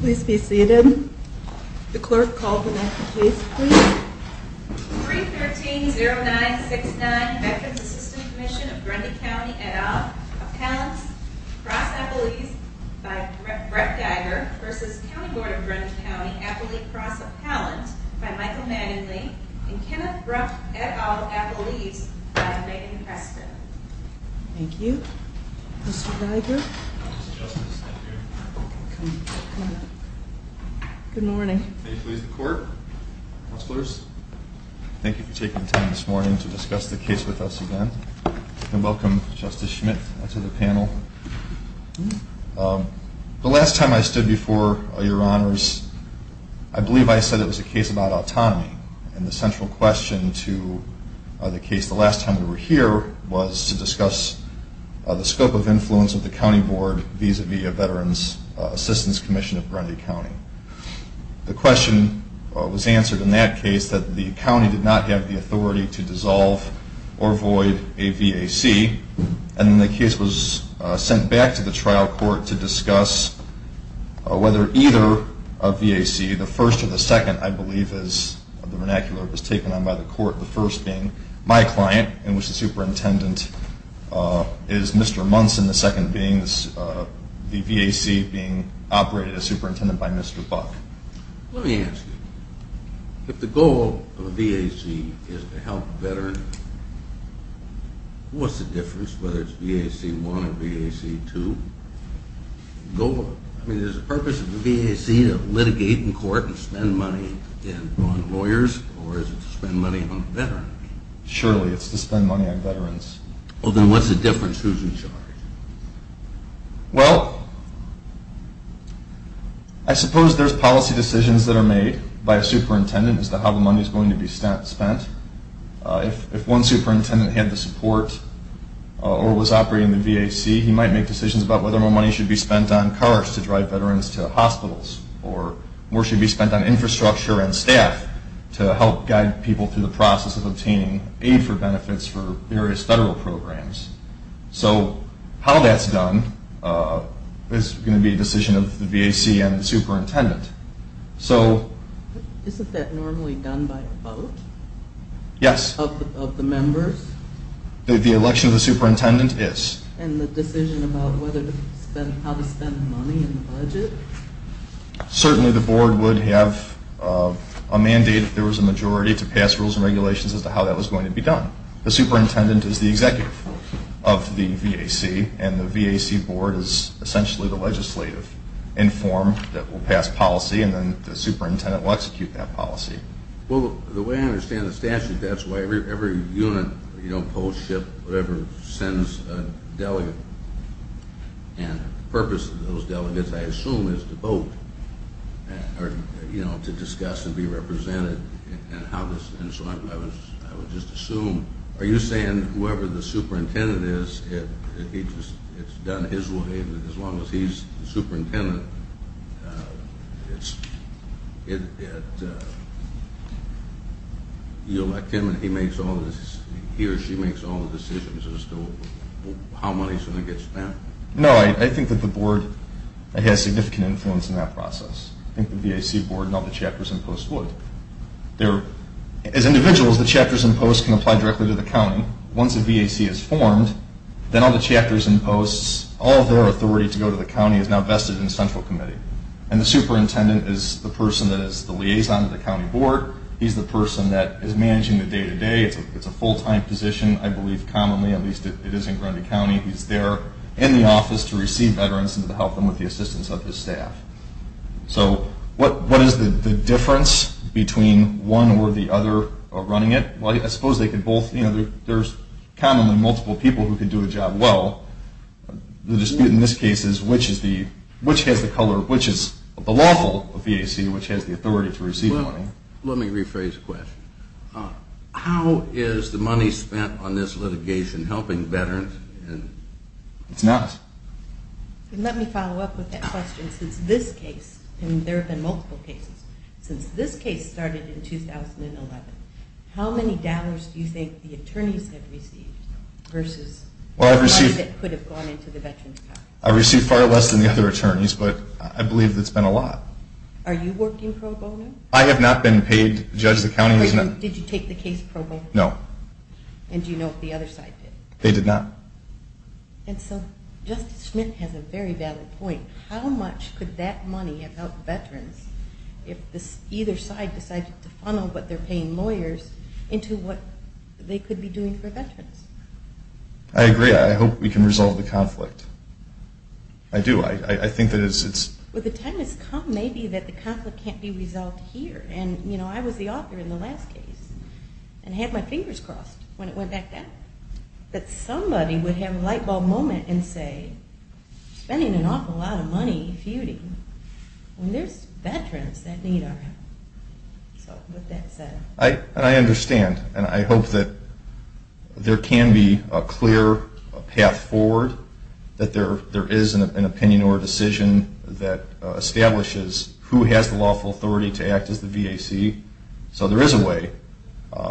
Please be seated. The clerk called the next case, please. 313-0969 Veterans Assistance Commission of Grundy County et al. Appellant, Cross Appellees by Brett Geiger v. County Board of Grundy County, Appellee, Cross Appellant by Michael Manningly and Kenneth Brought et al. Appellees by Megan Preston. Thank you. Mr. Geiger. Good morning. May it please the court. Counselors, thank you for taking the time this morning to discuss the case with us again. And welcome, Justice Schmidt, to the panel. The last time I stood before your honors, I believe I said it was a case about autonomy. And the central question to the case the last time we were here was to discuss the scope of V.A.C. The question was answered in that case that the county did not have the authority to dissolve or void a V.A.C. And then the case was sent back to the trial court to discuss whether either of V.A.C., the first or the second, I believe, as the vernacular was taken on by the court, the first being my client, in which the superintendent is Mr. Munson, the second being the V.A.C. being operated as superintendent by Mr. Buck. Let me ask you. If the goal of a V.A.C. is to help veterans, what's the difference whether it's V.A.C. 1 or V.A.C. 2? I mean, is the purpose of the V.A.C. to litigate in court and spend money on lawyers, or is it to spend money on veterans? Surely, it's to spend money on veterans. Well, then what's the difference? Who's in charge? Well, I suppose there's policy decisions that are made by a superintendent as to how the money is going to be spent. If one superintendent had the support or was operating the V.A.C., he might make decisions about whether more money should be spent on cars to drive veterans to hospitals, or more should be spent on infrastructure and staff to help guide people through the programs. So how that's done is going to be a decision of the V.A.C. and the superintendent. Isn't that normally done by a vote? Yes. Of the members? The election of the superintendent is. And the decision about how to spend money in the budget? Certainly, the board would have a mandate if there was a majority to pass rules and regulations as to how that was going to be done. The superintendent is the executive of the V.A.C., and the V.A.C. board is essentially the legislative. Inform that we'll pass policy, and then the superintendent will execute that policy. Well, the way I understand the statute, that's why every unit, post, ship, whatever, sends a delegate. And the purpose of those delegates, I assume, is to vote, or to discuss and be I would just assume, are you saying whoever the superintendent is, it's done his way, and as long as he's the superintendent, you elect him and he makes all the decisions, he or she makes all the decisions as to how money is going to get spent? No, I think that the board has significant influence in that process. I think the V.A.C. board and all the chapters and posts would. As individuals, the chapters and posts can apply directly to the county. Once a V.A.C. is formed, then all the chapters and posts, all of their authority to go to the county is now vested in the central committee. And the superintendent is the person that is the liaison to the county board. He's the person that is managing the day-to-day. It's a full-time position, I believe, commonly, at least it is in Grundy County. He's there in the office to receive veterans and to help them with the assistance of his staff. So what is the difference between one or the other running it? Well, I suppose they can both, you know, there's commonly multiple people who can do a job well. The dispute in this case is which has the color, which is the lawful of V.A.C., which has the authority to receive the money. Let me rephrase the question. How is the money spent on this litigation helping veterans? It's not. Let me follow up with that question. Since this case, and there have been multiple cases, since this case started in 2011, how many dollars do you think the attorneys have received versus the money that could have gone into the veterans' pocket? I received far less than the other attorneys, but I believe it's been a lot. Are you working pro bono? I have not been paid, Judge, the county has not. Did you take the case pro bono? No. And do you know if the other side did? They did not. And so Justice Schmidt has a very valid point. How much could that money have helped veterans if either side decided to funnel what they're paying lawyers into what they could be doing for veterans? I agree. I hope we can resolve the conflict. I do. I think that it's... Well, the time has come maybe that the conflict can't be resolved here. And, you know, I was the author in the last case and had my fingers crossed when it went back down that somebody would have a light bulb moment and say, spending an awful lot of money feuding when there's veterans that need our help. So with that said... I understand. And I hope that there can be a clear path forward, that there is an opinion or a decision that establishes who has the lawful authority to act as the VAC. So there is a way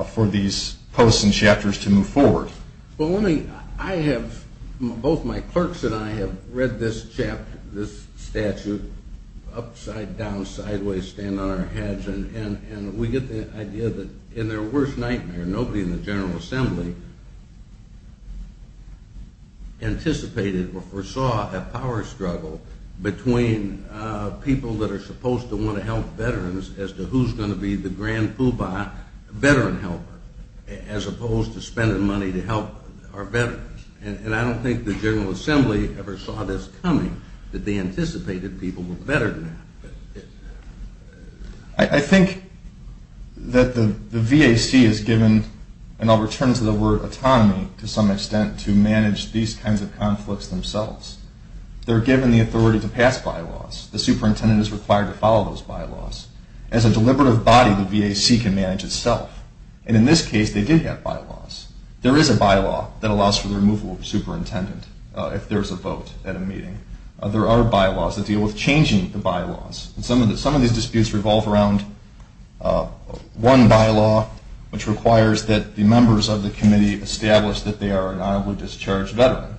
for these posts and chapters to move forward. Well, let me... I have... Both my clerks and I have read this chapter, this statute, upside down, sideways, stand on our heads. And we get the idea that in their worst nightmare, nobody in the General Assembly anticipated or foresaw a power struggle between people that the Grand Poobah veteran helper, as opposed to spending money to help our veterans. And I don't think the General Assembly ever saw this coming, that they anticipated people were better than that. I think that the VAC is given, and I'll return to the word autonomy to some extent, to manage these kinds of conflicts themselves. They're given the authority to pass bylaws. The superintendent is required to follow those bylaws. As a deliberative body, the VAC can manage itself. And in this case, they did have bylaws. There is a bylaw that allows for the removal of a superintendent, if there's a vote at a meeting. There are bylaws that deal with changing the bylaws. And some of these disputes revolve around one bylaw, which requires that the members of the committee establish that they are an honorably discharged veteran.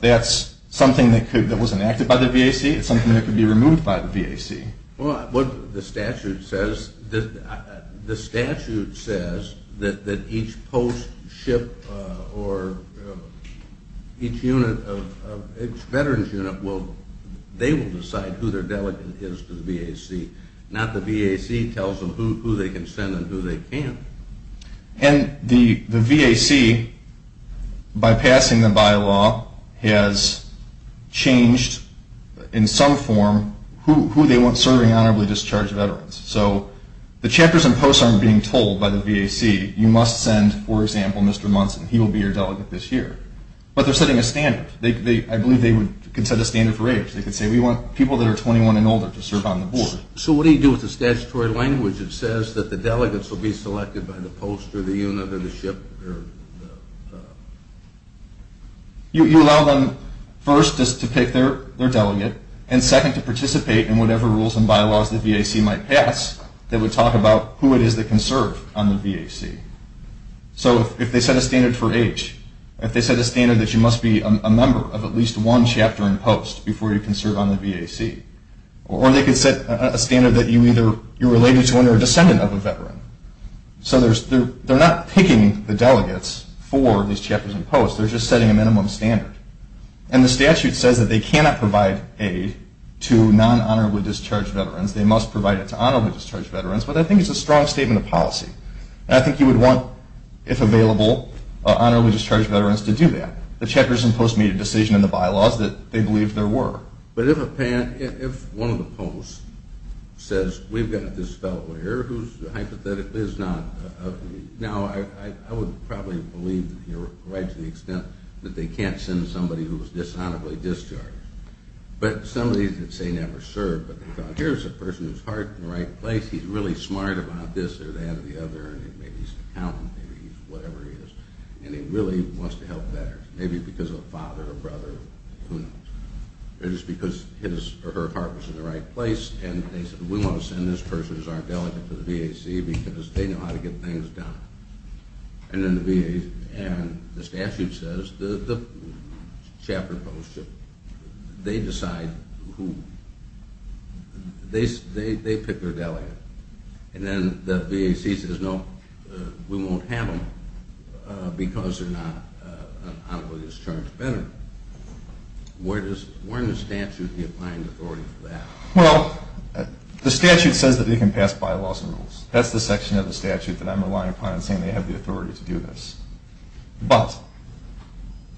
That's something that was enacted by the VAC. It's something that could be removed by the VAC. Well, what the statute says, the statute says that each post, ship, or each unit of each veteran's unit, they will decide who their delegate is to the VAC. Not the VAC tells them who they can send and who they can't. And the VAC, by passing the bylaw, has changed in some form who they want serving honorably discharged veterans. So the chapters and posts aren't being told by the VAC, you must send, for example, Mr. Munson. He will be your delegate this year. But they're setting a standard. I believe they would set a standard for age. They could say we want people that are 21 and older to serve on the board. So what do you do with the statutory language that says the delegates will be selected by the post, or the unit, or the ship? You allow them first to pick their delegate, and second to participate in whatever rules and bylaws the VAC might pass that would talk about who it is that can serve on the VAC. So if they set a standard for age, if they set a standard that you must be a member of at least one chapter and post before you can serve on the VAC, or they could set a standard that you're either related to or a descendant of a veteran. So they're not picking the delegates for these chapters and posts, they're just setting a minimum standard. And the statute says that they cannot provide aid to non-honorably discharged veterans, they must provide it to honorably discharged veterans, but I think it's a strong statement of policy. And I think you would want, if available, honorably discharged veterans to do that. The chapters and posts made a decision in the bylaws that they believed there were. But if one of the posts says we've got this fellow here who's hypothetically is not, now I would probably believe that you're right to the extent that they can't send somebody who's dishonorably discharged, but some of these that say never served, but here's a person whose heart is in the right place, he's really smart about this or that or the other, and maybe he's a accountant, maybe he's whatever he is, and he really wants to help better, maybe because of a father, a brother, who knows. It's because his or her heart was in the right place and they said we want to send this person who's our delegate to the VAC because they know how to get things done. And the statute says the chapter posts, they decide who, they pick their honorably discharged veteran. Where in the statute is the applying authority for that? Well, the statute says that they can pass bylaws and rules. That's the section of the statute that I'm relying upon and saying they have the authority to do this. But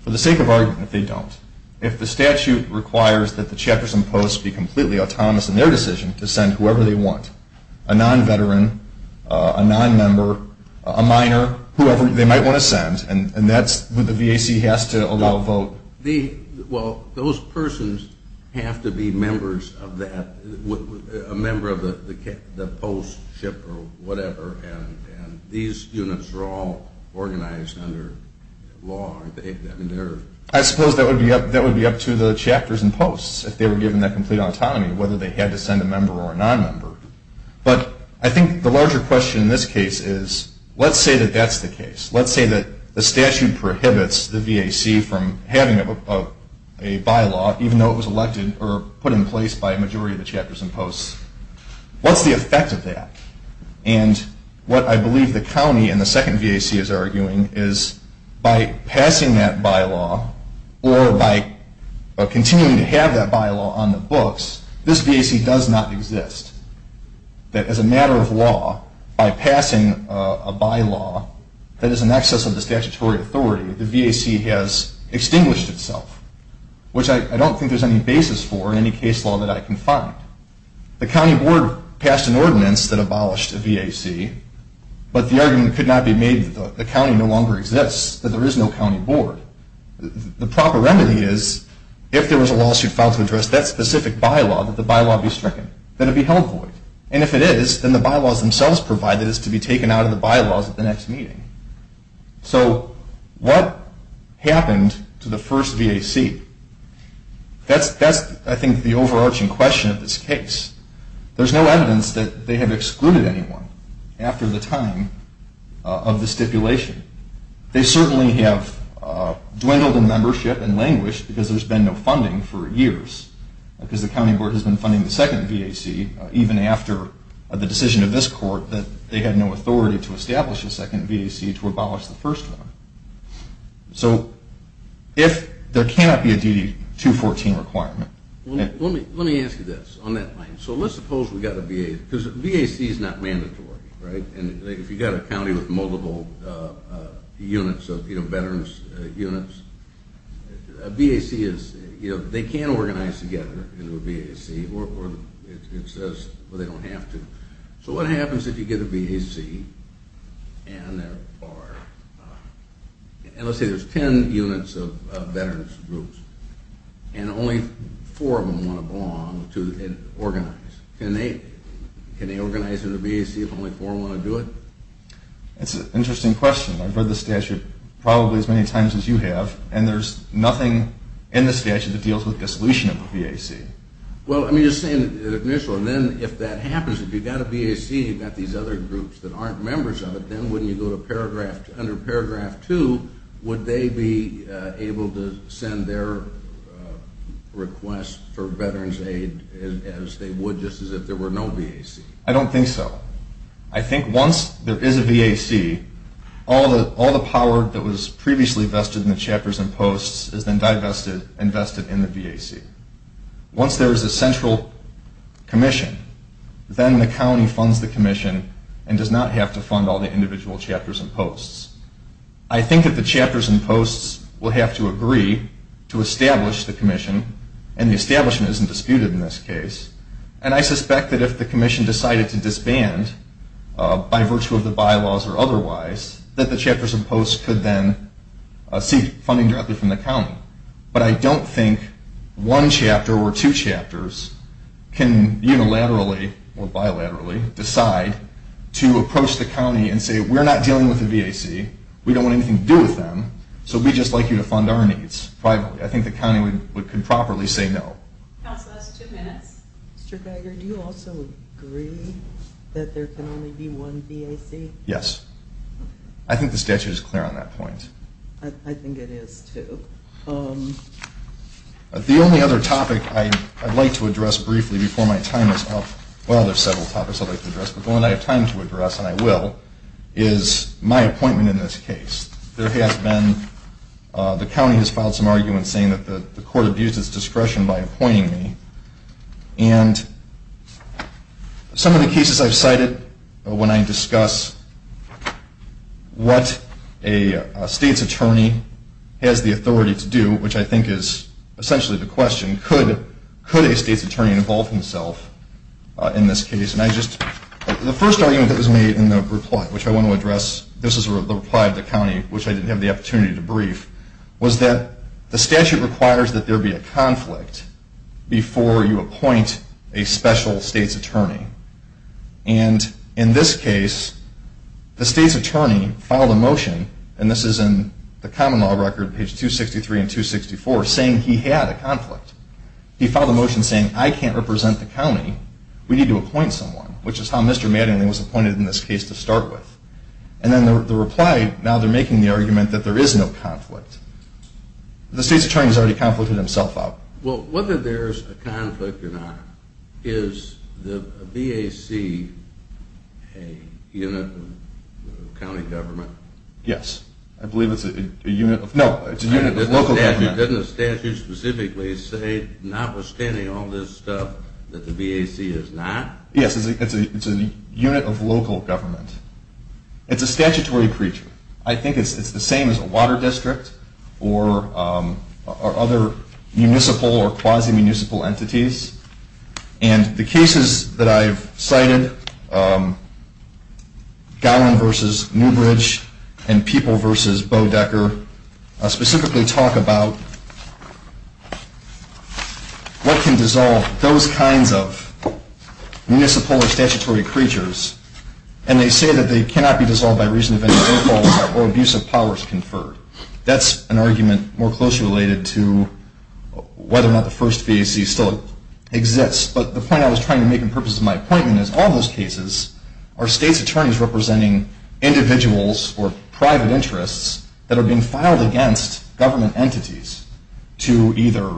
for the sake of argument, they don't. If the statute requires that the chapters and posts be completely autonomous in their decision to send whoever they want, a non-veteran, a non-member, a minor, whoever they might want to allow a vote. Well, those persons have to be members of that, a member of the postship or whatever, and these units are all organized under law. I suppose that would be up to the chapters and posts if they were given that complete autonomy, whether they had to send a member or a non-member. But I think the larger question in this case is, let's say that that's the case. Let's say that the statute prohibits the VAC from having a bylaw, even though it was elected or put in place by a majority of the chapters and posts. What's the effect of that? And what I believe the county and the second VAC is arguing is by passing that bylaw or by continuing to have that bylaw on the books, this VAC does not exist. That as a matter of law, by passing a bylaw, that is in excess of the statutory authority, the VAC has extinguished itself, which I don't think there's any basis for in any case law that I can find. The county board passed an ordinance that abolished the VAC, but the argument could not be made that the county no longer exists, that there is no county board. The proper remedy is, if there was a lawsuit filed to address that specific bylaw, that the bylaw be stricken, that it be held void. And if it is, then the bylaws provided is to be taken out of the bylaws at the next meeting. So what happened to the first VAC? That's, I think, the overarching question of this case. There's no evidence that they have excluded anyone after the time of the stipulation. They certainly have dwindled in membership and languished because there's been no funding for years, because the county board has been funding the second VAC even after the decision of this court that they had no authority to establish a second VAC to abolish the first one. So if there cannot be a DD 214 requirement. Let me ask you this on that line. So let's suppose we've got a VAC, because a VAC is not mandatory, right? And if you've got a county with multiple units of, you know, veterans units, a VAC is, you know, they can organize together into a VAC, or it says they don't have to. So what happens if you get a VAC and there are, let's say there's 10 units of veterans groups, and only four of them want to belong to and organize. Can they organize into a VAC if only four want to do it? It's an interesting question. I've read the statute probably as many times as you have, and there's nothing in the statute that deals with the solution of a VAC. Well, let me just say in the initial, and then if that happens, if you've got a VAC, you've got these other groups that aren't members of it, then wouldn't you go to paragraph, under paragraph two, would they be able to send their request for veterans aid as they would just as if there were no VAC? I don't think so. I think once there is a VAC, all the power that was previously vested in the chapters and posts is then divested and vested in the VAC. Once there is a central commission, then the county funds the commission and does not have to fund all the individual chapters and posts. I think that the chapters and posts will have to agree to establish the commission, and the establishment isn't disputed in this case, and I suspect that if the commission decided to disband by virtue of the bylaws or otherwise, that the chapters and posts could then seek funding directly from the county, but I don't think one chapter or two chapters can unilaterally or bilaterally decide to approach the county and say we're not dealing with the VAC, we don't want anything to do with them, so we'd just like you to fund our needs privately. I think the county could properly say no. Counsel, that's two minutes. Mr. Geiger, do you also agree that there can only be one VAC? Yes. I think the statute is clear on that point. I think it is, too. The only other topic I'd like to address briefly before my time is up, well, there's several topics I'd like to address, but the one I have time to address, and I will, is my appointment in this case. There has been, the county has filed some arguments saying that the court abused its discretion by appointing me, and some of the cases I've cited when I discuss what a state's attorney has the authority to do, which I think is essentially the question, could a state's attorney involve himself in this case, and I just, the first argument that was made in the reply, which I want to address, this is the reply to the county, which I didn't have the opportunity to brief, was that the statute requires that there be a conflict before you appoint a special state's attorney, and in this case, the state's attorney filed a motion, and this is in the common law record, page 263 and 264, saying he had a conflict. He filed a motion saying I can't represent the county, we need to appoint someone, which is how Mr. Mattingly was appointed in this case, and there was no conflict. The state's attorney has already conflicted himself out. Well, whether there's a conflict or not, is the BAC a unit of county government? Yes. I believe it's a unit of, no, it's a unit of local government. Doesn't the statute specifically say, notwithstanding all this stuff, that the BAC is not? Yes, it's a unit of local government. It's a statutory creature. I think it's the same as a water district, or other municipal or quasi-municipal entities, and the cases that I've cited, Gowen versus Newbridge, and People versus Bodecker, specifically talk about what can dissolve those kinds of municipal or statutory creatures, and they say that they cannot be That's an argument more closely related to whether or not the first BAC still exists, but the point I was trying to make in purpose of my appointment is all those cases are state's attorneys representing individuals or private interests that are being filed against government entities to either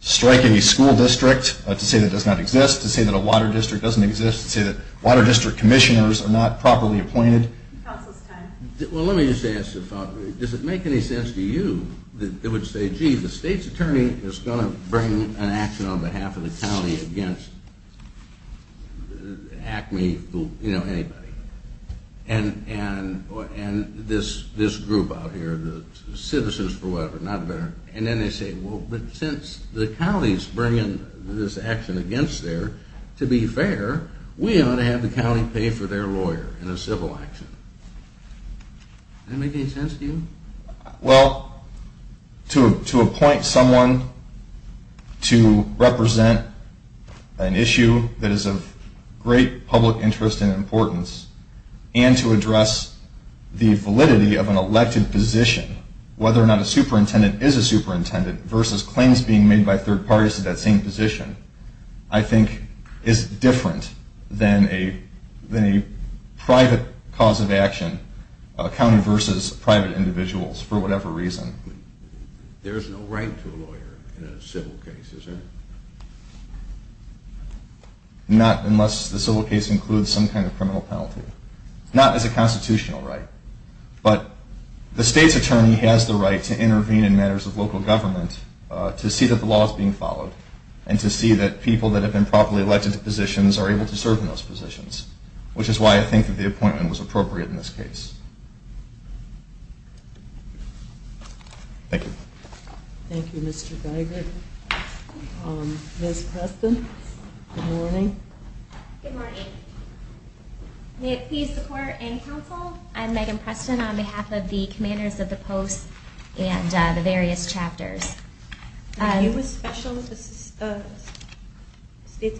strike a school district to say that does not exist, to say that a water district doesn't exist, to say that water district commissioners are not properly appointed. Counsel's time. Well, let me just ask, does it make any sense to you that they would say, gee, the state's attorney is going to bring an action on behalf of the county against ACME, you know, anybody, and this group out here, the citizens for whatever, and then they say, well, but since the county's bringing this action against there, to be fair, we ought to have the county pay for their lawyer in a civil action. Does that make any sense to you? Well, to appoint someone to represent an issue that is of great public interest and importance and to address the validity of an elected position, whether or not a superintendent is a superintendent versus claims being made by third parties to that same position, I think is different than a private cause of action, county versus private individuals, for whatever reason. There is no right to a lawyer in a civil case, is there? Not unless the civil case includes some kind of criminal penalty. Not as a constitutional right, but the state's attorney has the right to intervene in matters of public interest to see that the law is being followed and to see that people that have been properly elected to positions are able to serve in those positions, which is why I think that the appointment was appropriate in this case. Thank you. Thank you, Mr. Geigert. Ms. Preston. Good morning. Good morning. May it please the court and counsel, I'm Megan Preston on behalf of the commanders of the post and the various post and chapters. Are you a special state's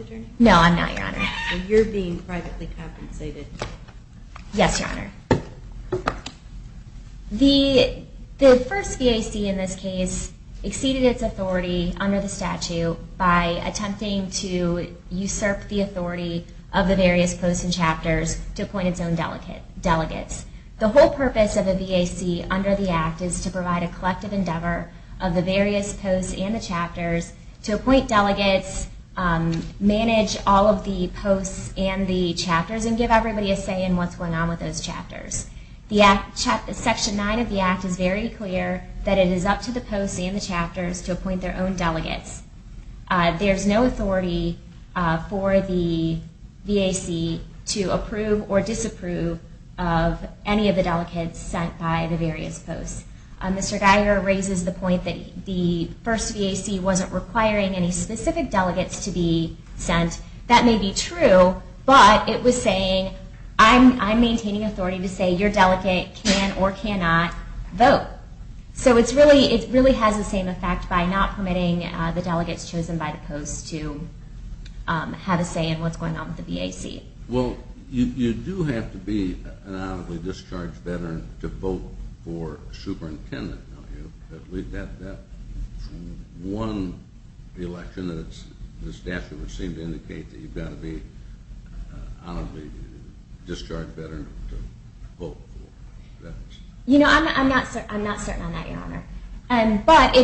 attorney? No, I'm not, Your Honor. So you're being privately compensated. Yes, Your Honor. The first VAC in this case exceeded its authority under the statute by attempting to usurp the authority of the various posts and chapters to appoint its own delegates. The whole purpose of the VAC under the Act is to provide a collective endeavor of the various posts and the chapters to appoint delegates, manage all of the posts and the chapters, and give everybody a say in what's going on with those chapters. Section 9 of the Act is very clear that it is up to the posts and the chapters to appoint their own delegates. There's no authority for the VAC to approve or disapprove of any of the delegates sent by the various posts. Mr. Geigert raises the point that the first VAC wasn't requiring any specific delegates to be sent. That may be true, but it was saying I'm maintaining authority to say your delegate can or cannot vote. So it really has the same effect by not permitting the delegates chosen by the posts to have a say in what's going on with the VAC. Well, you do have to be an honorably discharged veteran to vote for a superintendent, don't you? We've got that one election that the statute would seem to indicate that you've got to be an honorably discharged veteran to vote for. You know, I'm not certain on that, Your Honor. But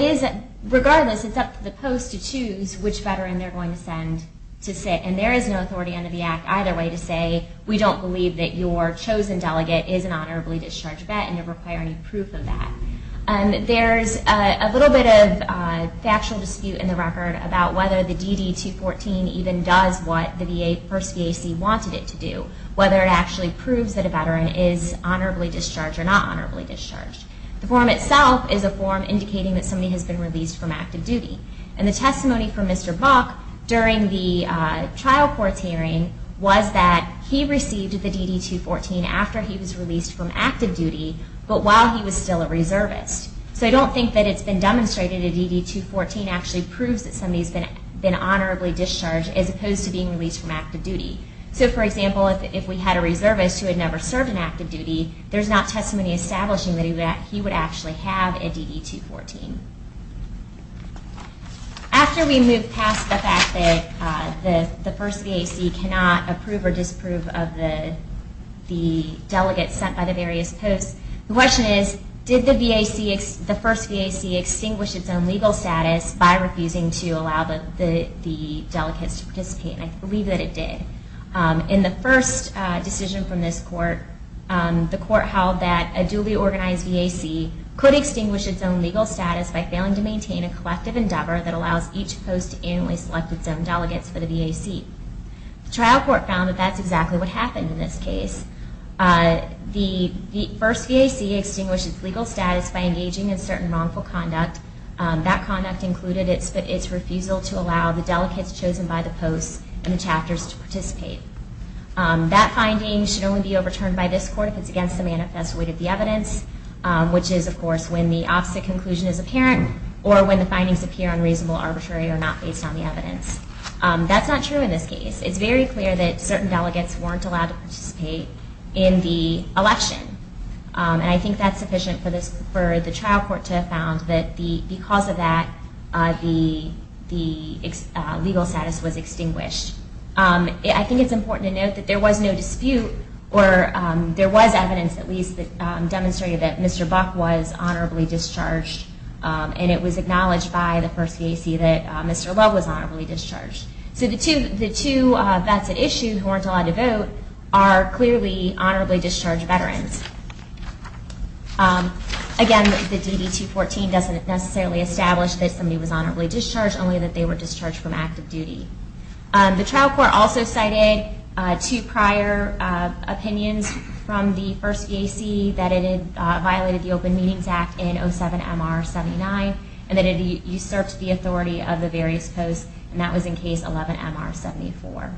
regardless, it's up to the posts to choose which veteran they're going to send to sit. And there is no authority under the Act either way to say we don't believe that your chosen delegate is an honorably discharged vet and to require any proof of that. There's a little bit of factual dispute in the record about whether the DD214 even does what the first VAC wanted it to do, whether it actually proves that a veteran is honorably discharged or not honorably discharged. The form itself is a form indicating that somebody has been released from active duty. And the testimony from Mr. Bach during the trial court's hearing was that he received the DD214 after he was released from active duty, but while he was still a reservist. So I don't think that it's been demonstrated a DD214 actually proves that somebody's been honorably discharged as opposed to being released from active duty. So, for example, if we had a reservist who had never served in active duty, there's not testimony establishing that he would actually have a DD214. After we move past the fact that the first VAC cannot approve or disprove of the delegates sent by the various posts, the question is, did the first VAC extinguish its own legal status by refusing to allow the delegates to participate? And I believe that it did. In the first decision from this court, the court held that a duly organized VAC could extinguish its own legal status by failing to maintain a collective endeavor that allows each post to annually select its own delegates for the VAC. The trial court found that that's exactly what happened in this case. The first VAC extinguished its legal status by engaging in certain wrongful conduct. That conduct included its refusal to allow the delegates chosen by the posts and the chapters to participate. That finding should only be overturned by this court if it's against the manifest weight of the evidence, which is, of course, when the opposite conclusion is apparent or when the findings appear unreasonable, arbitrary, or not based on the evidence. That's not true in this case. It's very clear that certain delegates weren't allowed to participate in the election, and I think that's sufficient for the trial court to have found that because of that, the legal status was extinguished. I think it's important to note that there was no dispute, or there was evidence, at least, that demonstrated that Mr. Buck was honorably discharged, and it was acknowledged by the first VAC that Mr. Love was honorably discharged. So the two vets at issue who weren't allowed to vote are clearly honorably discharged veterans. Again, the DD-214 doesn't necessarily establish that somebody was honorably discharged, only that they were discharged from active duty. The trial court also cited two prior opinions from the first VAC that it had violated the Open Meetings Act in 07-MR-79 and that it usurped the authority of the various posts, and that was in Case 11-MR-74.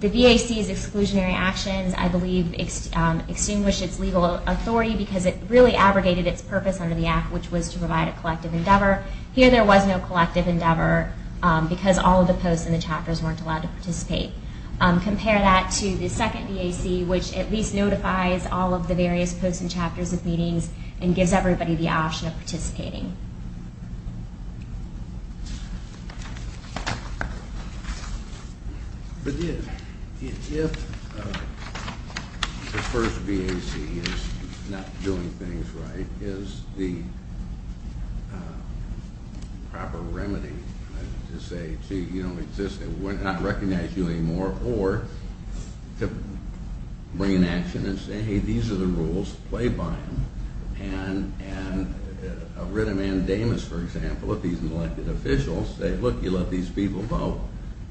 The VAC's exclusionary actions, I believe, extinguished its legal authority because it really abrogated its purpose under the Act, which was to provide a collective endeavor. Here there was no collective endeavor because all of the posts in the chapters weren't allowed to participate. Compare that to the second VAC, which at least notifies all of the various posts and chapters of meetings and gives everybody the option of participating. But if the first VAC is not doing things right, is the proper remedy to say, gee, you don't exist, they will not recognize you anymore, or to bring an action and say, hey, these are the rules, play by them. And a writ of mandamus, for example, if he's an elected official, say, look, you let these people vote,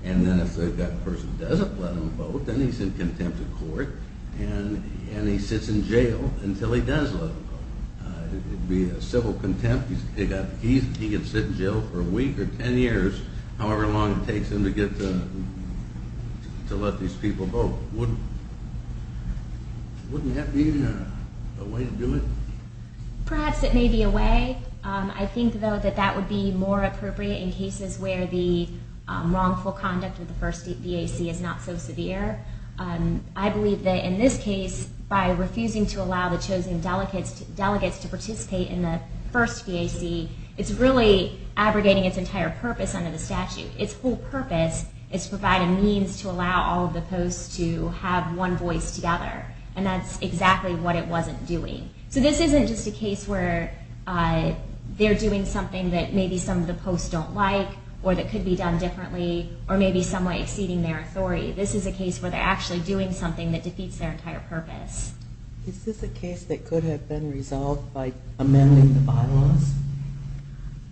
and then if that person doesn't let them vote, then he's in contempt of court and he sits in jail until he does let them vote. It would be a civil contempt. He can sit in jail for a week or ten years, however long it takes him to let these people vote. Wouldn't that be a way to do it? Perhaps it may be a way. I think, though, that that would be more appropriate in cases where the wrongful conduct of the first VAC is not so severe. I believe that in this case, by refusing to allow the chosen delegates to participate in the first VAC, it's really abrogating its entire purpose under the statute. Its whole purpose is to provide a means to allow all of the posts to have one voice together, and that's exactly what it wasn't doing. So this isn't just a case where they're doing something that maybe some of the posts don't like, or that could be done differently, or maybe some way exceeding their authority. This is a case where they're actually doing something that defeats their entire purpose. Is this a case that could have been resolved by amending the bylaws?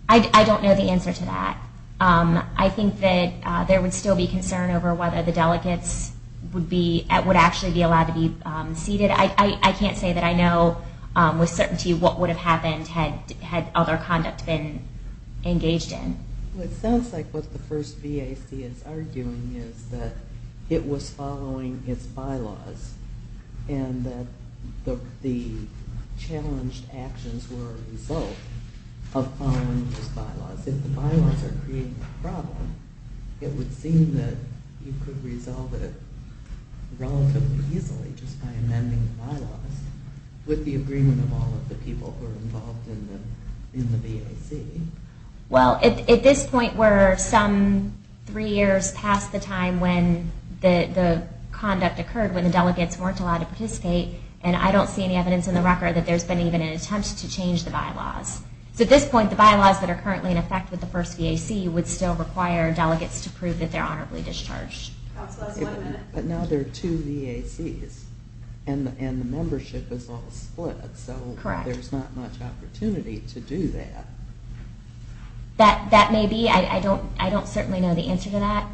I don't know the answer to that. I think that there would still be concern over whether the delegates would actually be allowed to be seated. I can't say that I know with certainty what would have happened had other conduct been engaged in. It sounds like what the first VAC is arguing is that it was following its bylaws, and that the challenged actions were a result of following its bylaws. If the bylaws are creating a problem, it would seem that you could resolve it relatively easily just by amending the bylaws with the agreement of all of the people who are involved in the VAC. Well, at this point, we're some three years past the time when the conduct occurred, when the delegates weren't allowed to participate, and I don't see any evidence in the record that there's been even an attempt to change the bylaws. So at this point, the bylaws that are currently in effect with the first VAC would still require delegates to prove that they're honorably discharged. But now there are two VACs, and the membership is all split, so there's not much opportunity to do that. That may be. I don't certainly know the answer to that.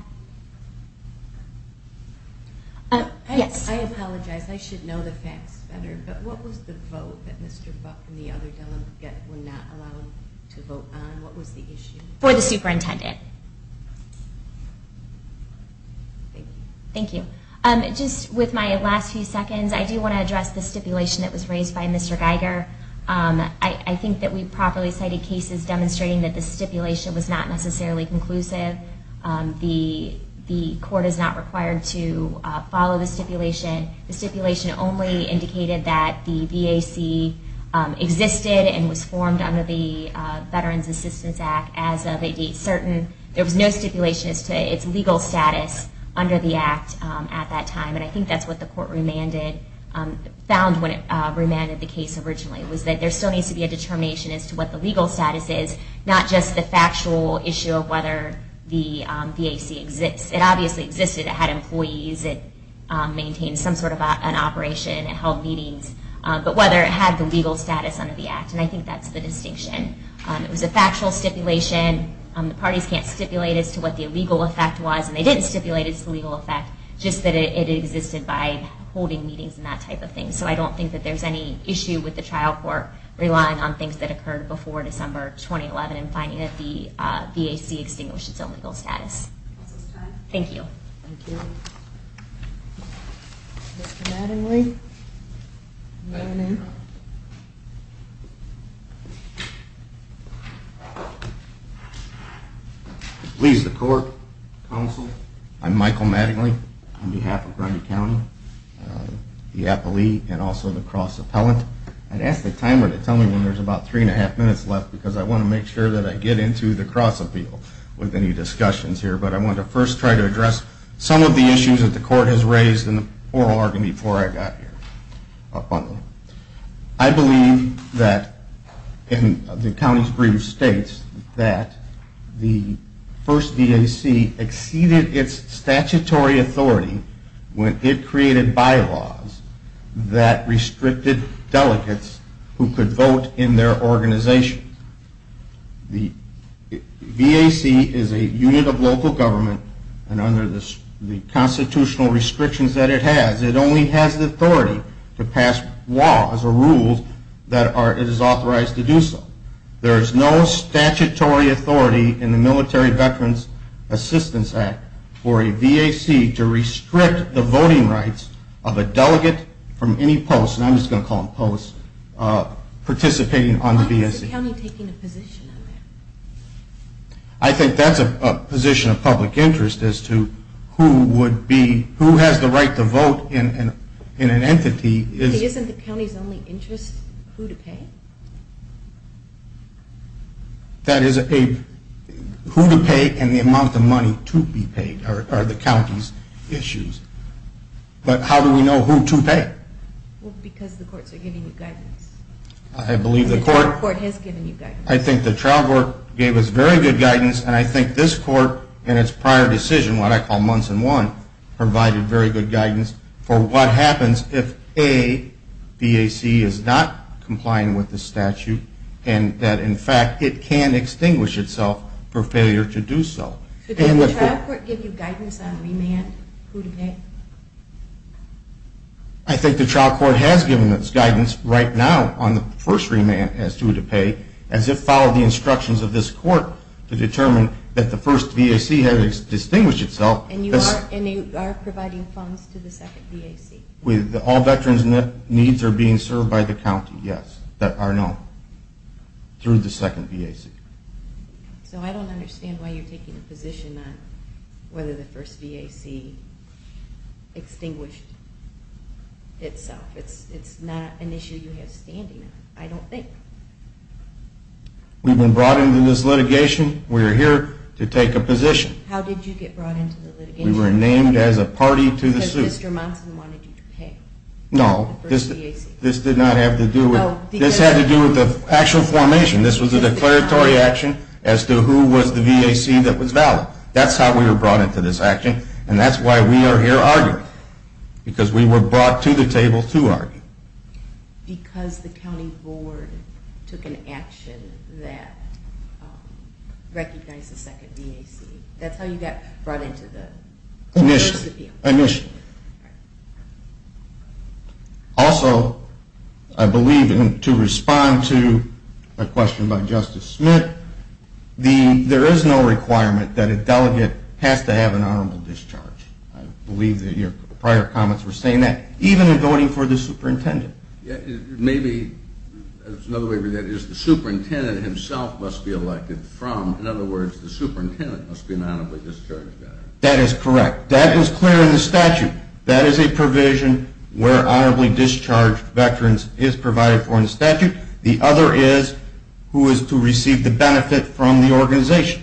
I apologize. I should know the facts better. But what was the vote that Mr. Buck and the other delegates were not allowed to vote on? What was the issue? For the superintendent. Thank you. Just with my last few seconds, I do want to address the stipulation that was raised by Mr. Geiger. I think that we properly cited cases demonstrating that the stipulation was not necessarily conclusive. The court is not required to follow the stipulation. The stipulation only indicated that the VAC existed and was formed under the Veterans Assistance Act as of a date certain. There was no stipulation as to its legal status under the act at that time, and I think that's what the court found when it remanded the case originally, was that there still needs to be a determination as to what the legal status is, not just the factual issue of whether the VAC exists. It obviously existed. It had employees. It maintained some sort of an operation. It held meetings. But whether it had the legal status under the act, and I think that's the distinction. It was a factual stipulation. The parties can't stipulate as to what the legal effect was, and they didn't stipulate its legal effect, just that it existed by holding meetings and that type of thing. So I don't think that there's any issue with the trial court relying on things that occurred before December 2011 and finding that the VAC extinguished its own legal status. Thank you. Thank you. Mr. Maddenley? Maddenley. Please, the court, counsel. I'm Michael Maddenley on behalf of Grundy County, the appellee, and also the cross-appellant. I'd ask the timer to tell me when there's about three and a half minutes left because I want to make sure that I get into the cross-appeal with any discussions here. But I want to first try to address some of the issues that the court has raised in the oral argument before I got here. I believe that the county's brief states that the first VAC exceeded its statutory authority when it created bylaws that restricted delegates who could vote in their organization. The VAC is a unit of local government, and under the constitutional restrictions that it has, it only has the authority to pass laws or rules that it is authorized to do so. There is no statutory authority in the Military Veterans Assistance Act for a VAC to restrict the voting rights of a delegate from any post, and I'm just going to call them posts, participating on the VAC. Why is the county taking a position on that? I think that's a position of public interest as to who would be, who has the right to vote in an entity. Isn't the county's only interest who to pay? That is a, who to pay and the amount of money to be paid are the county's issues. But how do we know who to pay? Well, because the courts are giving you guidance. I believe the court. The trial court has given you guidance. I think the trial court gave us very good guidance, and I think this court in its prior decision, what I call months in one, provided very good guidance for what happens if a VAC is not complying with the statute and that, in fact, it can extinguish itself for failure to do so. Did the trial court give you guidance on remand, who to pay? I think the trial court has given us guidance right now on the first remand as to who to pay, as it followed the instructions of this court to determine that the first VAC had extinguished itself. And you are providing funds to the second VAC? All veterans' needs are being served by the county, yes, that are known through the second VAC. So I don't understand why you're taking a position on whether the first VAC extinguished itself. It's not an issue you have standing on, I don't think. We've been brought into this litigation, we are here to take a position. How did you get brought into the litigation? We were named as a party to the suit. Because Mr. Monson wanted you to pay? No, this did not have to do with, this had to do with the actual formation. This was a declaratory action as to who was the VAC that was valid. That's how we were brought into this action, and that's why we are here arguing. Because we were brought to the table to argue. Because the county board took an action that recognized the second VAC. That's how you got brought into the deal? Initially, initially. Also, I believe, and to respond to a question by Justice Smith, there is no requirement that a delegate has to have an honorable discharge. I believe that your prior comments were saying that. Even in voting for the superintendent. Maybe, that's another way of looking at it, the superintendent himself must be elected from. In other words, the superintendent must be an honorably discharged veteran. That is correct. That was clear in the statute. That is a provision where honorably discharged veterans is provided for in the statute. The other is who is to receive the benefit from the organization.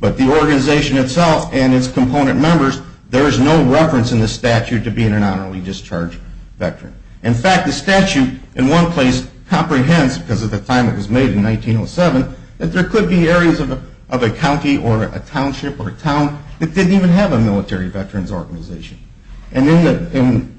But the organization itself and its component members, there is no reference in the statute to being an honorably discharged veteran. In fact, the statute in one place comprehends, because of the time it was made in 1907, that there could be areas of a county or a township or a town that didn't even have a military veterans organization. And in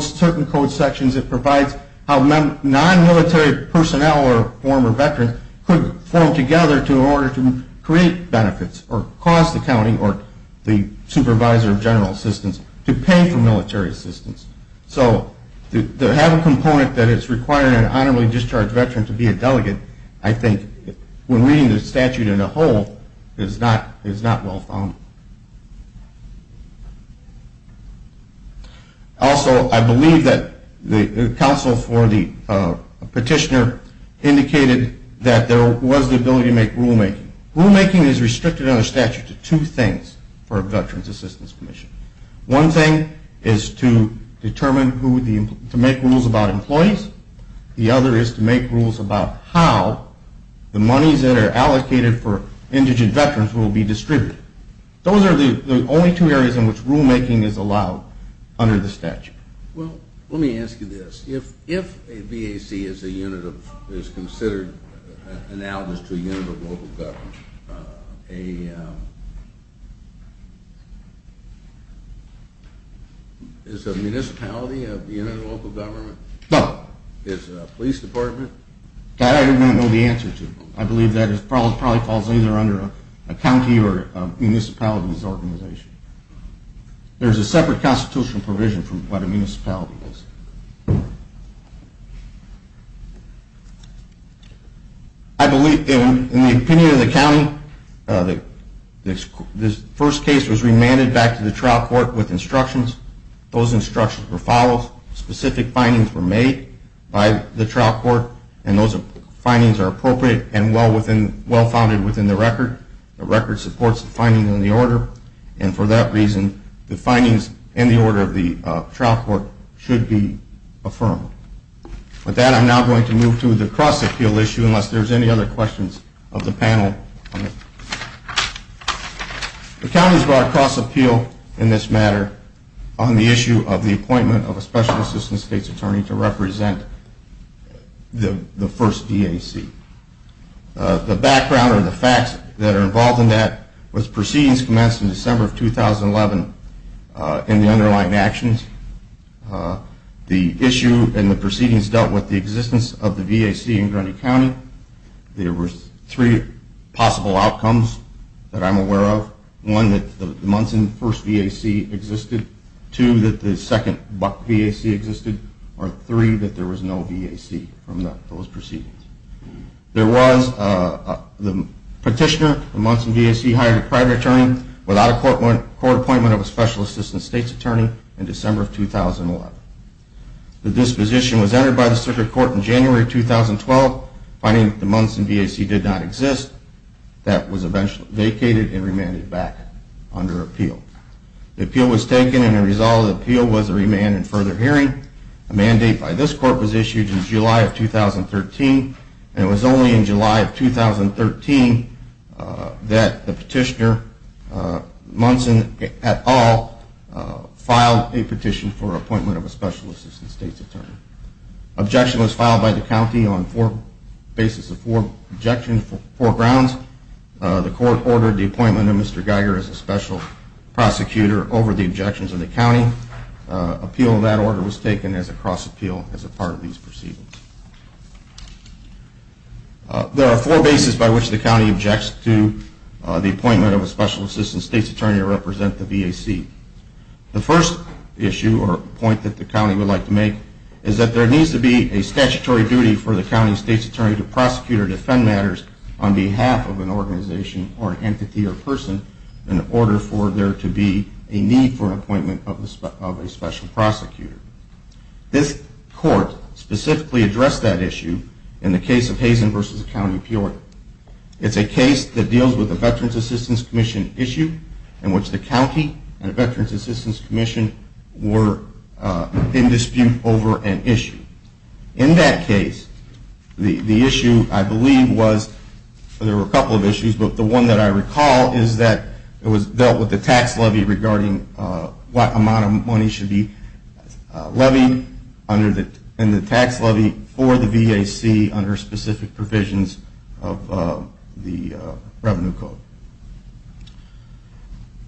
certain code sections, it provides how non-military personnel or former veterans could form together in order to create benefits or cause the county or the supervisor of general assistance to pay for military assistance. So to have a component that is requiring an honorably discharged veteran to be a delegate, I think, when reading the statute in a whole, is not well found. Also, I believe that the counsel for the petitioner indicated that there was the ability to make rulemaking. Rulemaking is restricted under the statute to two things for a Veterans Assistance Commission. One thing is to make rules about employees. The other is to make rules about how the monies that are allocated for indigent veterans will be distributed. Those are the only two areas in which rulemaking is allowed under the statute. Well, let me ask you this. If a VAC is considered analogous to a unit of local government, is a municipality a unit of local government? No. Is a police department? That I do not know the answer to. I believe that probably falls either under a county or a municipality's organization. There is a separate constitutional provision from what a municipality is. I believe in the opinion of the county, this first case was remanded back to the trial court with instructions. Those instructions were followed. Specific findings were made by the trial court, and those findings are appropriate and well-founded within the record. The record supports the findings in the order, and for that reason the findings in the order of the trial court should be affirmed. With that, I'm now going to move to the cross-appeal issue, unless there are any other questions of the panel. The counties brought a cross-appeal in this matter on the issue of the appointment of a Special Assistance State's Attorney to represent the first VAC. The background or the facts that are involved in that was proceedings commenced in December of 2011 in the underlying actions. The issue and the proceedings dealt with the existence of the VAC in Grundy County. There were three possible outcomes that I'm aware of. One, that the months in the first VAC existed. Two, that the second VAC existed. Three, that there was no VAC from those proceedings. There was the petitioner, the months in VAC, hired a private attorney without a court appointment of a Special Assistance State's Attorney in December of 2011. The disposition was entered by the circuit court in January 2012, finding that the months in VAC did not exist. That was eventually vacated and remanded back under appeal. The appeal was taken, and the result of the appeal was a remand and further hearing. A mandate by this court was issued in July of 2013, and it was only in July of 2013 that the petitioner, Munson, et al., filed a petition for appointment of a Special Assistance State's Attorney. Objection was filed by the county on the basis of four objections, four grounds. The court ordered the appointment of Mr. Geiger as a Special Prosecutor over the objections of the county. The appeal of that order was taken as a cross appeal as a part of these proceedings. There are four bases by which the county objects to the appointment of a Special Assistance State's Attorney to represent the VAC. The first issue or point that the county would like to make is that there needs to be a statutory duty for the county State's Attorney to prosecute or defend matters on behalf of an organization or an entity or person in order for there to be a need for an appointment of a Special Prosecutor. This court specifically addressed that issue in the case of Hazen v. County of Peoria. It's a case that deals with a Veterans Assistance Commission issue in which the county and the Veterans Assistance Commission were in dispute over an issue. In that case, the issue I believe was, there were a couple of issues, but the one that I recall is that it was dealt with the tax levy regarding what amount of money should be levied and the tax levy for the VAC under specific provisions of the Revenue Code.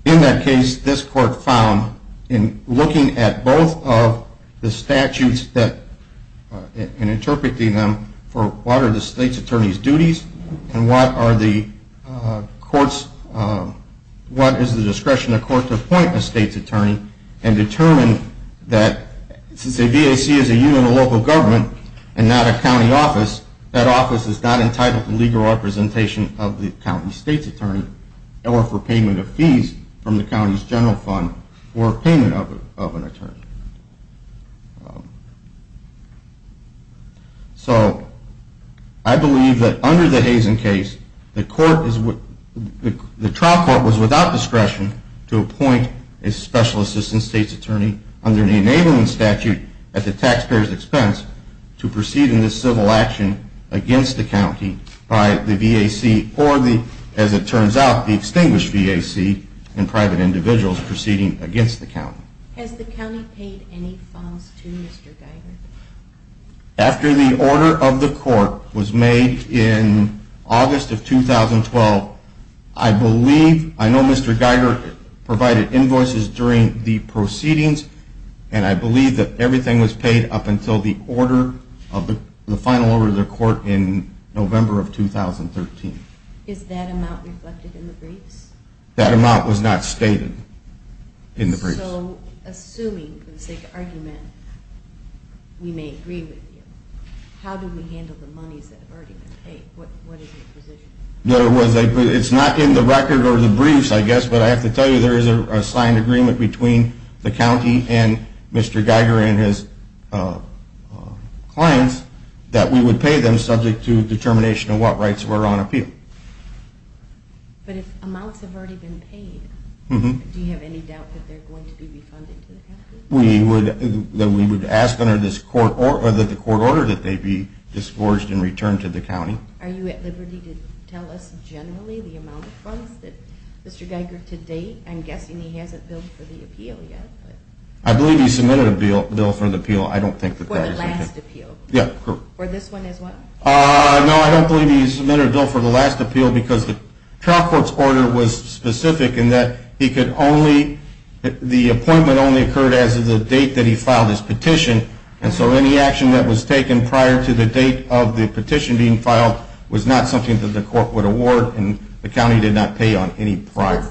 In that case, this court found in looking at both of the statutes and interpreting them for what are the State's Attorney's duties and what is the discretion of the court to appoint a State's Attorney and determine that since a VAC is a unit of local government and not a county office, that office is not entitled to legal representation of the county State's Attorney or for payment of fees from the county's general fund or payment of an attorney. So I believe that under the Hazen case, the trial court was without discretion to appoint a Special Assistant State's Attorney under the Enablement Statute at the taxpayer's expense to proceed in this civil action against the county by the VAC or the, as it turns out, the extinguished VAC and private individuals proceeding against the county. After the order of the court was made in August of 2012, I believe, I know Mr. Geiger provided invoices during the proceedings and I believe that everything was paid up until the final order of the court in November of 2013. Is that amount reflected in the briefs? That amount was not stated in the briefs. So assuming, for the sake of argument, we may agree with you, how do we handle the monies that have already been paid? What is your position? It's not in the record or the briefs, I guess, but I have to tell you there is a signed agreement between the county and Mr. Geiger and his clients that we would pay them subject to determination of what rights were on appeal. But if amounts have already been paid, do you have any doubt that they're going to be refunded to the county? We would ask under the court order that they be disgorged and returned to the county. Are you at liberty to tell us generally the amount of funds that Mr. Geiger to date, I'm guessing he hasn't billed for the appeal yet? I believe he submitted a bill for the appeal. For the last appeal? Yeah. For this one as well? No, I don't believe he submitted a bill for the last appeal because the trial court's order was specific in that the appointment only occurred as of the date that he filed his petition, and so any action that was taken prior to the date of the petition being filed was not something that the court would award and the county did not pay on any prior.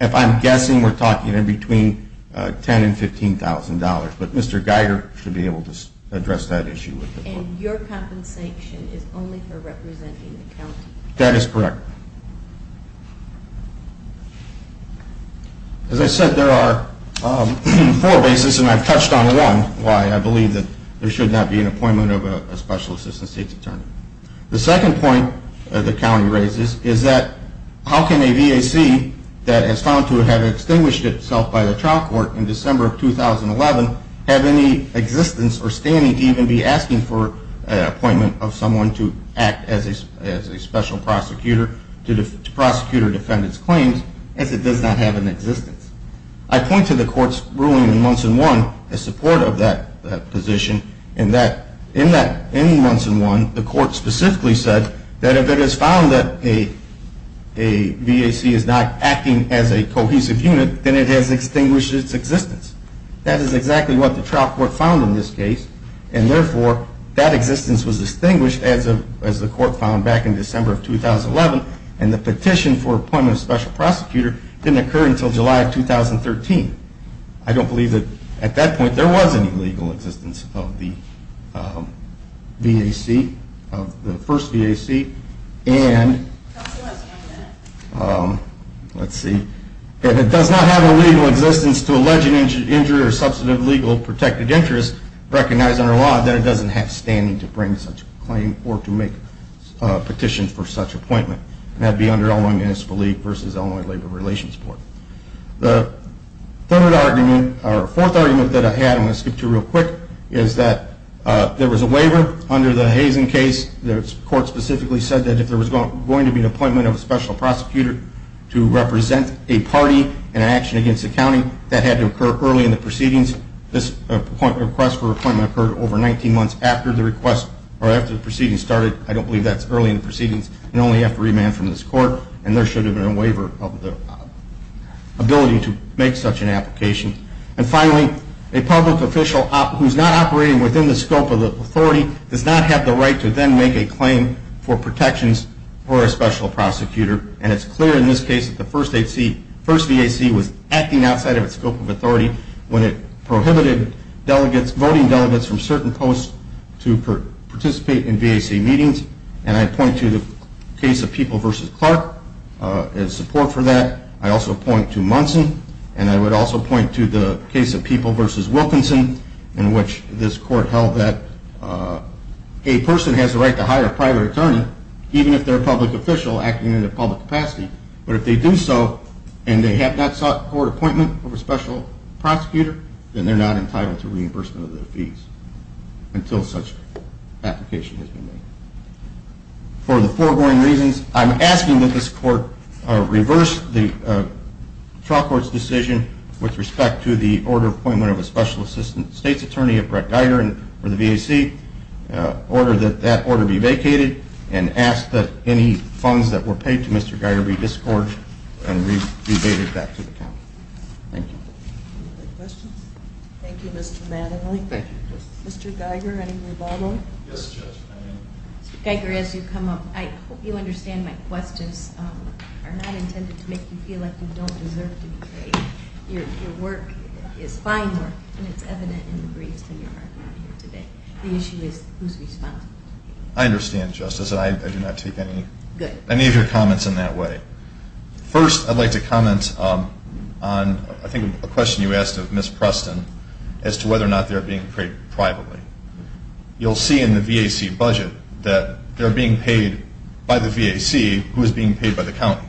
If I'm guessing, we're talking in between $10,000 and $15,000, but Mr. Geiger should be able to address that issue with the court. And your compensation is only for representing the county? That is correct. As I said, there are four bases, and I've touched on one, why I believe that there should not be an appointment of a special assistant state's attorney. The second point the county raises is that how can a VAC that is found to have extinguished itself by the trial court in December of 2011 have any existence or standing to even be asking for an appointment of someone to act as a special prosecutor to prosecute or defend its claims as it does not have an existence. I point to the court's ruling in months in one in support of that position in that in that in months in one, the court specifically said that if it is found that a VAC is not acting as a cohesive unit, then it has extinguished its existence. That is exactly what the trial court found in this case, and therefore that existence was extinguished as the court found back in December of 2011, and the petition for appointment of a special prosecutor didn't occur until July of 2013. I don't believe that at that point there was any legal existence of the VAC, of the first VAC, and it does not have a legal existence to allege an injury or substantive legal protected interest recognized under law that it doesn't have standing to bring such a claim or to make a petition for such appointment. That would be under Illinois Municipal League versus Illinois Labor Relations Board. The third argument, or fourth argument that I had, I'm going to skip to real quick, is that there was a waiver under the Hazen case. The court specifically said that if there was going to be an appointment of a special prosecutor to represent a party in an action against the county, that had to occur early in the proceedings. This request for appointment occurred over 19 months after the request, or after the proceedings started. I don't believe that's early in the proceedings. You only have to remand from this court, and there should have been a waiver of the ability to make such an application. And finally, a public official who's not operating within the scope of the authority does not have the right to then make a claim for protections for a special prosecutor, and it's clear in this case that the first VAC was acting outside of its scope of authority when it prohibited voting delegates from certain posts to participate in VAC meetings, and I point to the case of People v. Clark in support for that. I also point to Munson, and I would also point to the case of People v. Wilkinson in which this court held that a person has the right to hire a private attorney even if they're a public official acting in a public capacity, but if they do so and they have not sought court appointment of a special prosecutor, then they're not entitled to reimbursement of their fees until such application has been made. For the foregoing reasons, I'm asking that this court reverse the trial court's decision with respect to the order appointment of a special assistant state's attorney at Brett Geiger for the VAC, order that that order be vacated, and ask that any funds that were paid to Mr. Geiger be discouraged and rebated back to the county. Thank you. Any other questions? Thank you, Mr. Mattingly. Thank you, Justice. Mr. Geiger, any rebuttal? Yes, Judge, I am. Mr. Geiger, as you come up, I hope you understand my questions are not intended to make you feel like you don't deserve to be paid. Your work is fine work, and it's evident in the briefs and your argument here today. The issue is who's responsible. I understand, Justice, and I do not take any of your comments in that way. First, I'd like to comment on I think a question you asked of Ms. Preston as to whether or not they're being paid privately. You'll see in the VAC budget that they're being paid by the VAC who is being paid by the county.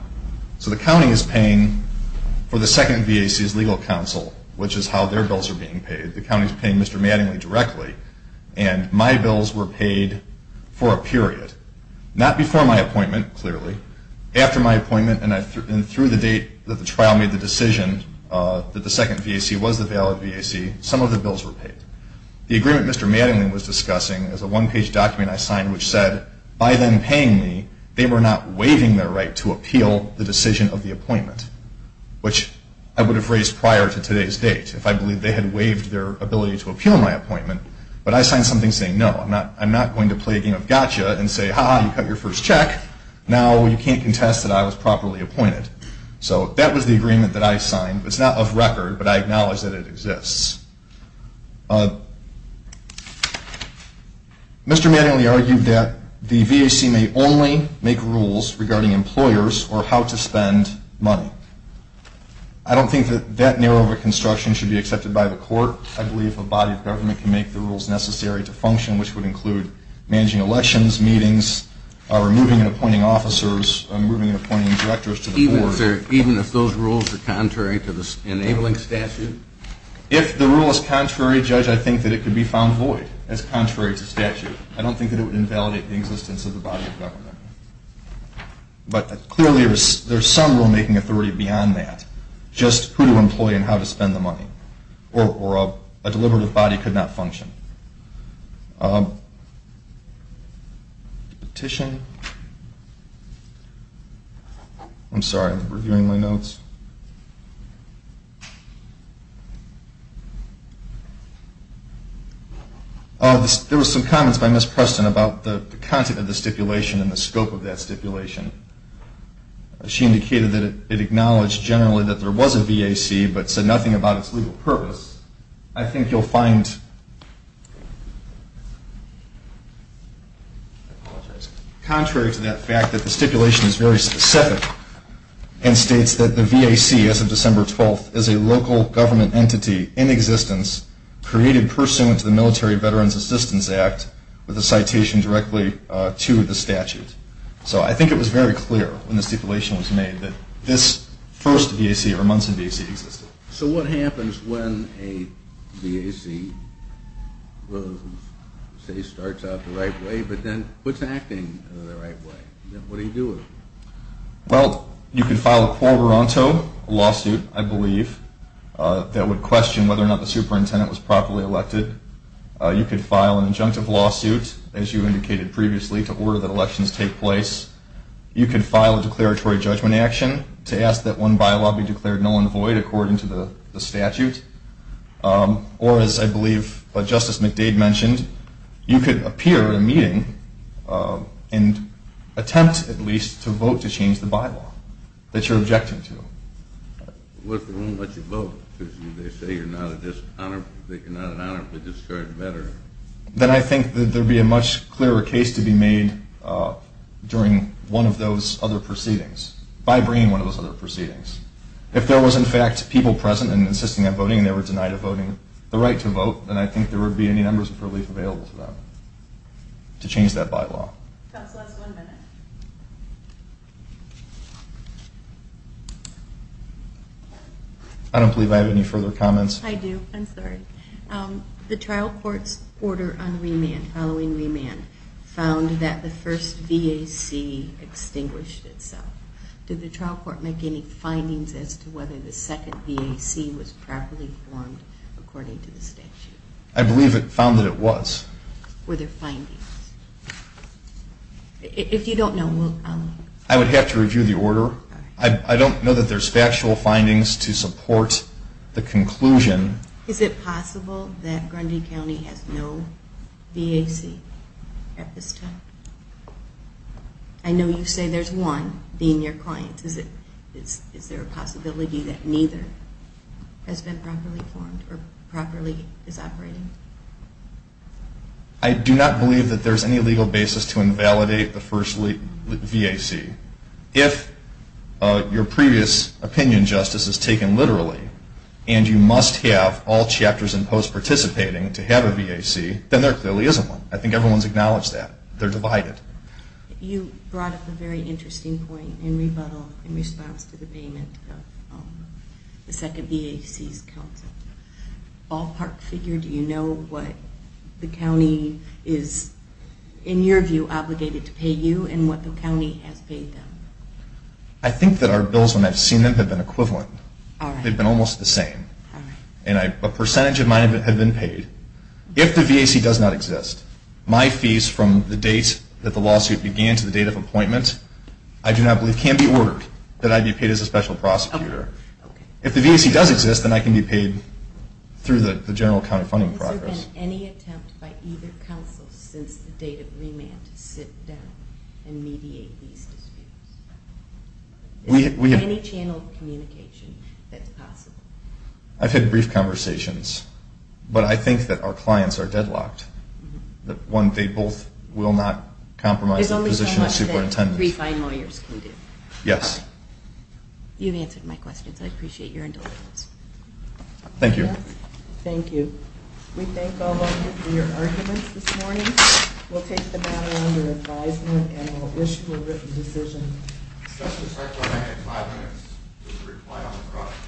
So the county is paying for the second VAC's legal counsel, which is how their bills are being paid. The county is paying Mr. Mattingly directly, and my bills were paid for a period. Not before my appointment, clearly. After my appointment and through the date that the trial made the decision that the second VAC was the valid VAC, some of the bills were paid. The agreement Mr. Mattingly was discussing is a one-page document I signed which said, by them paying me, they were not waiving their right to appeal the decision of the appointment, which I would have raised prior to today's date if I believed they had waived their ability to appeal my appointment. But I signed something saying, no, I'm not going to play a game of gotcha and say, ha-ha, you cut your first check. Now you can't contest that I was properly appointed. So that was the agreement that I signed. It's not off record, but I acknowledge that it exists. Mr. Mattingly argued that the VAC may only make rules regarding employers or how to spend money. I don't think that that narrow of a construction should be accepted by the court. I believe a body of government can make the rules necessary to function, which would include managing elections, meetings, removing and appointing officers, removing and appointing directors to the board. Even if those rules are contrary to the enabling statute? If the rule is contrary, Judge, I think that it could be found void as contrary to statute. I don't think that it would invalidate the existence of the body of government. But clearly there's some rulemaking authority beyond that, just who to employ and how to spend the money. Or a deliberative body could not function. Petition. I'm sorry, I'm reviewing my notes. There were some comments by Ms. Preston about the content of the stipulation and the scope of that stipulation. She indicated that it acknowledged generally that there was a VAC, but said nothing about its legal purpose. I think you'll find, contrary to that fact, that the stipulation is very specific and states that the VAC as of December 12th is a local government entity in existence, created pursuant to the Military Veterans Assistance Act with a citation directly to the statute. So I think it was very clear when the stipulation was made that this first VAC or Munson VAC existed. So what happens when a VAC, say, starts out the right way? But then what's acting the right way? What do you do with it? Well, you could file a quarteronto, a lawsuit, I believe, that would question whether or not the superintendent was properly elected. You could file an injunctive lawsuit, as you indicated previously, to order that elections take place. You could file a declaratory judgment action to ask that one bylaw be declared null and void according to the statute. Or, as I believe Justice McDade mentioned, you could appear in a meeting and attempt at least to vote to change the bylaw that you're objecting to. What if they won't let you vote? They say you're not an honorable discharge veteran. Then I think that there would be a much clearer case to be made during one of those other proceedings, by bringing one of those other proceedings. If there was, in fact, people present and insisting on voting and they were denied voting, the right to vote, then I think there would be any numbers of relief available to them to change that bylaw. Counsel, that's one minute. I don't believe I have any further comments. I do. I'm sorry. The trial court's order on remand, following remand, found that the first VAC extinguished itself. Did the trial court make any findings as to whether the second VAC was properly formed according to the statute? I believe it found that it was. Were there findings? If you don't know, I'll let you know. I would have to review the order. I don't know that there's factual findings to support the conclusion. Is it possible that Grundy County has no VAC at this time? I know you say there's one, being your client. Is there a possibility that neither has been properly formed or properly is operating? I do not believe that there's any legal basis to invalidate the first VAC. If your previous opinion, Justice, is taken literally and you must have all chapters and posts participating to have a VAC, then there clearly is one. I think everyone's acknowledged that. They're divided. You brought up a very interesting point in rebuttal in response to the payment of the second VAC's counsel. Ballpark figure, do you know what the county is, in your view, obligated to pay you and what the county has paid them? I think that our bills, when I've seen them, have been equivalent. They've been almost the same. A percentage of mine have been paid. If the VAC does not exist, my fees from the date that the lawsuit began to the date of appointment, I do not believe can be ordered that I be paid as a special prosecutor. If the VAC does exist, then I can be paid through the general county funding process. Has there been any attempt by either counsel since the date of remand to sit down and mediate these disputes? Any channel of communication that's possible? I've had brief conversations. But I think that our clients are deadlocked. One, they both will not compromise the position of superintendent. There's only so much that refined lawyers can do. Yes. You've answered my questions. I appreciate your indulgence. Thank you. Thank you. We thank all of you for your arguments this morning. We'll take the battle under advisement and we'll issue a written decision. The discussion will start in five minutes with a reply on the product.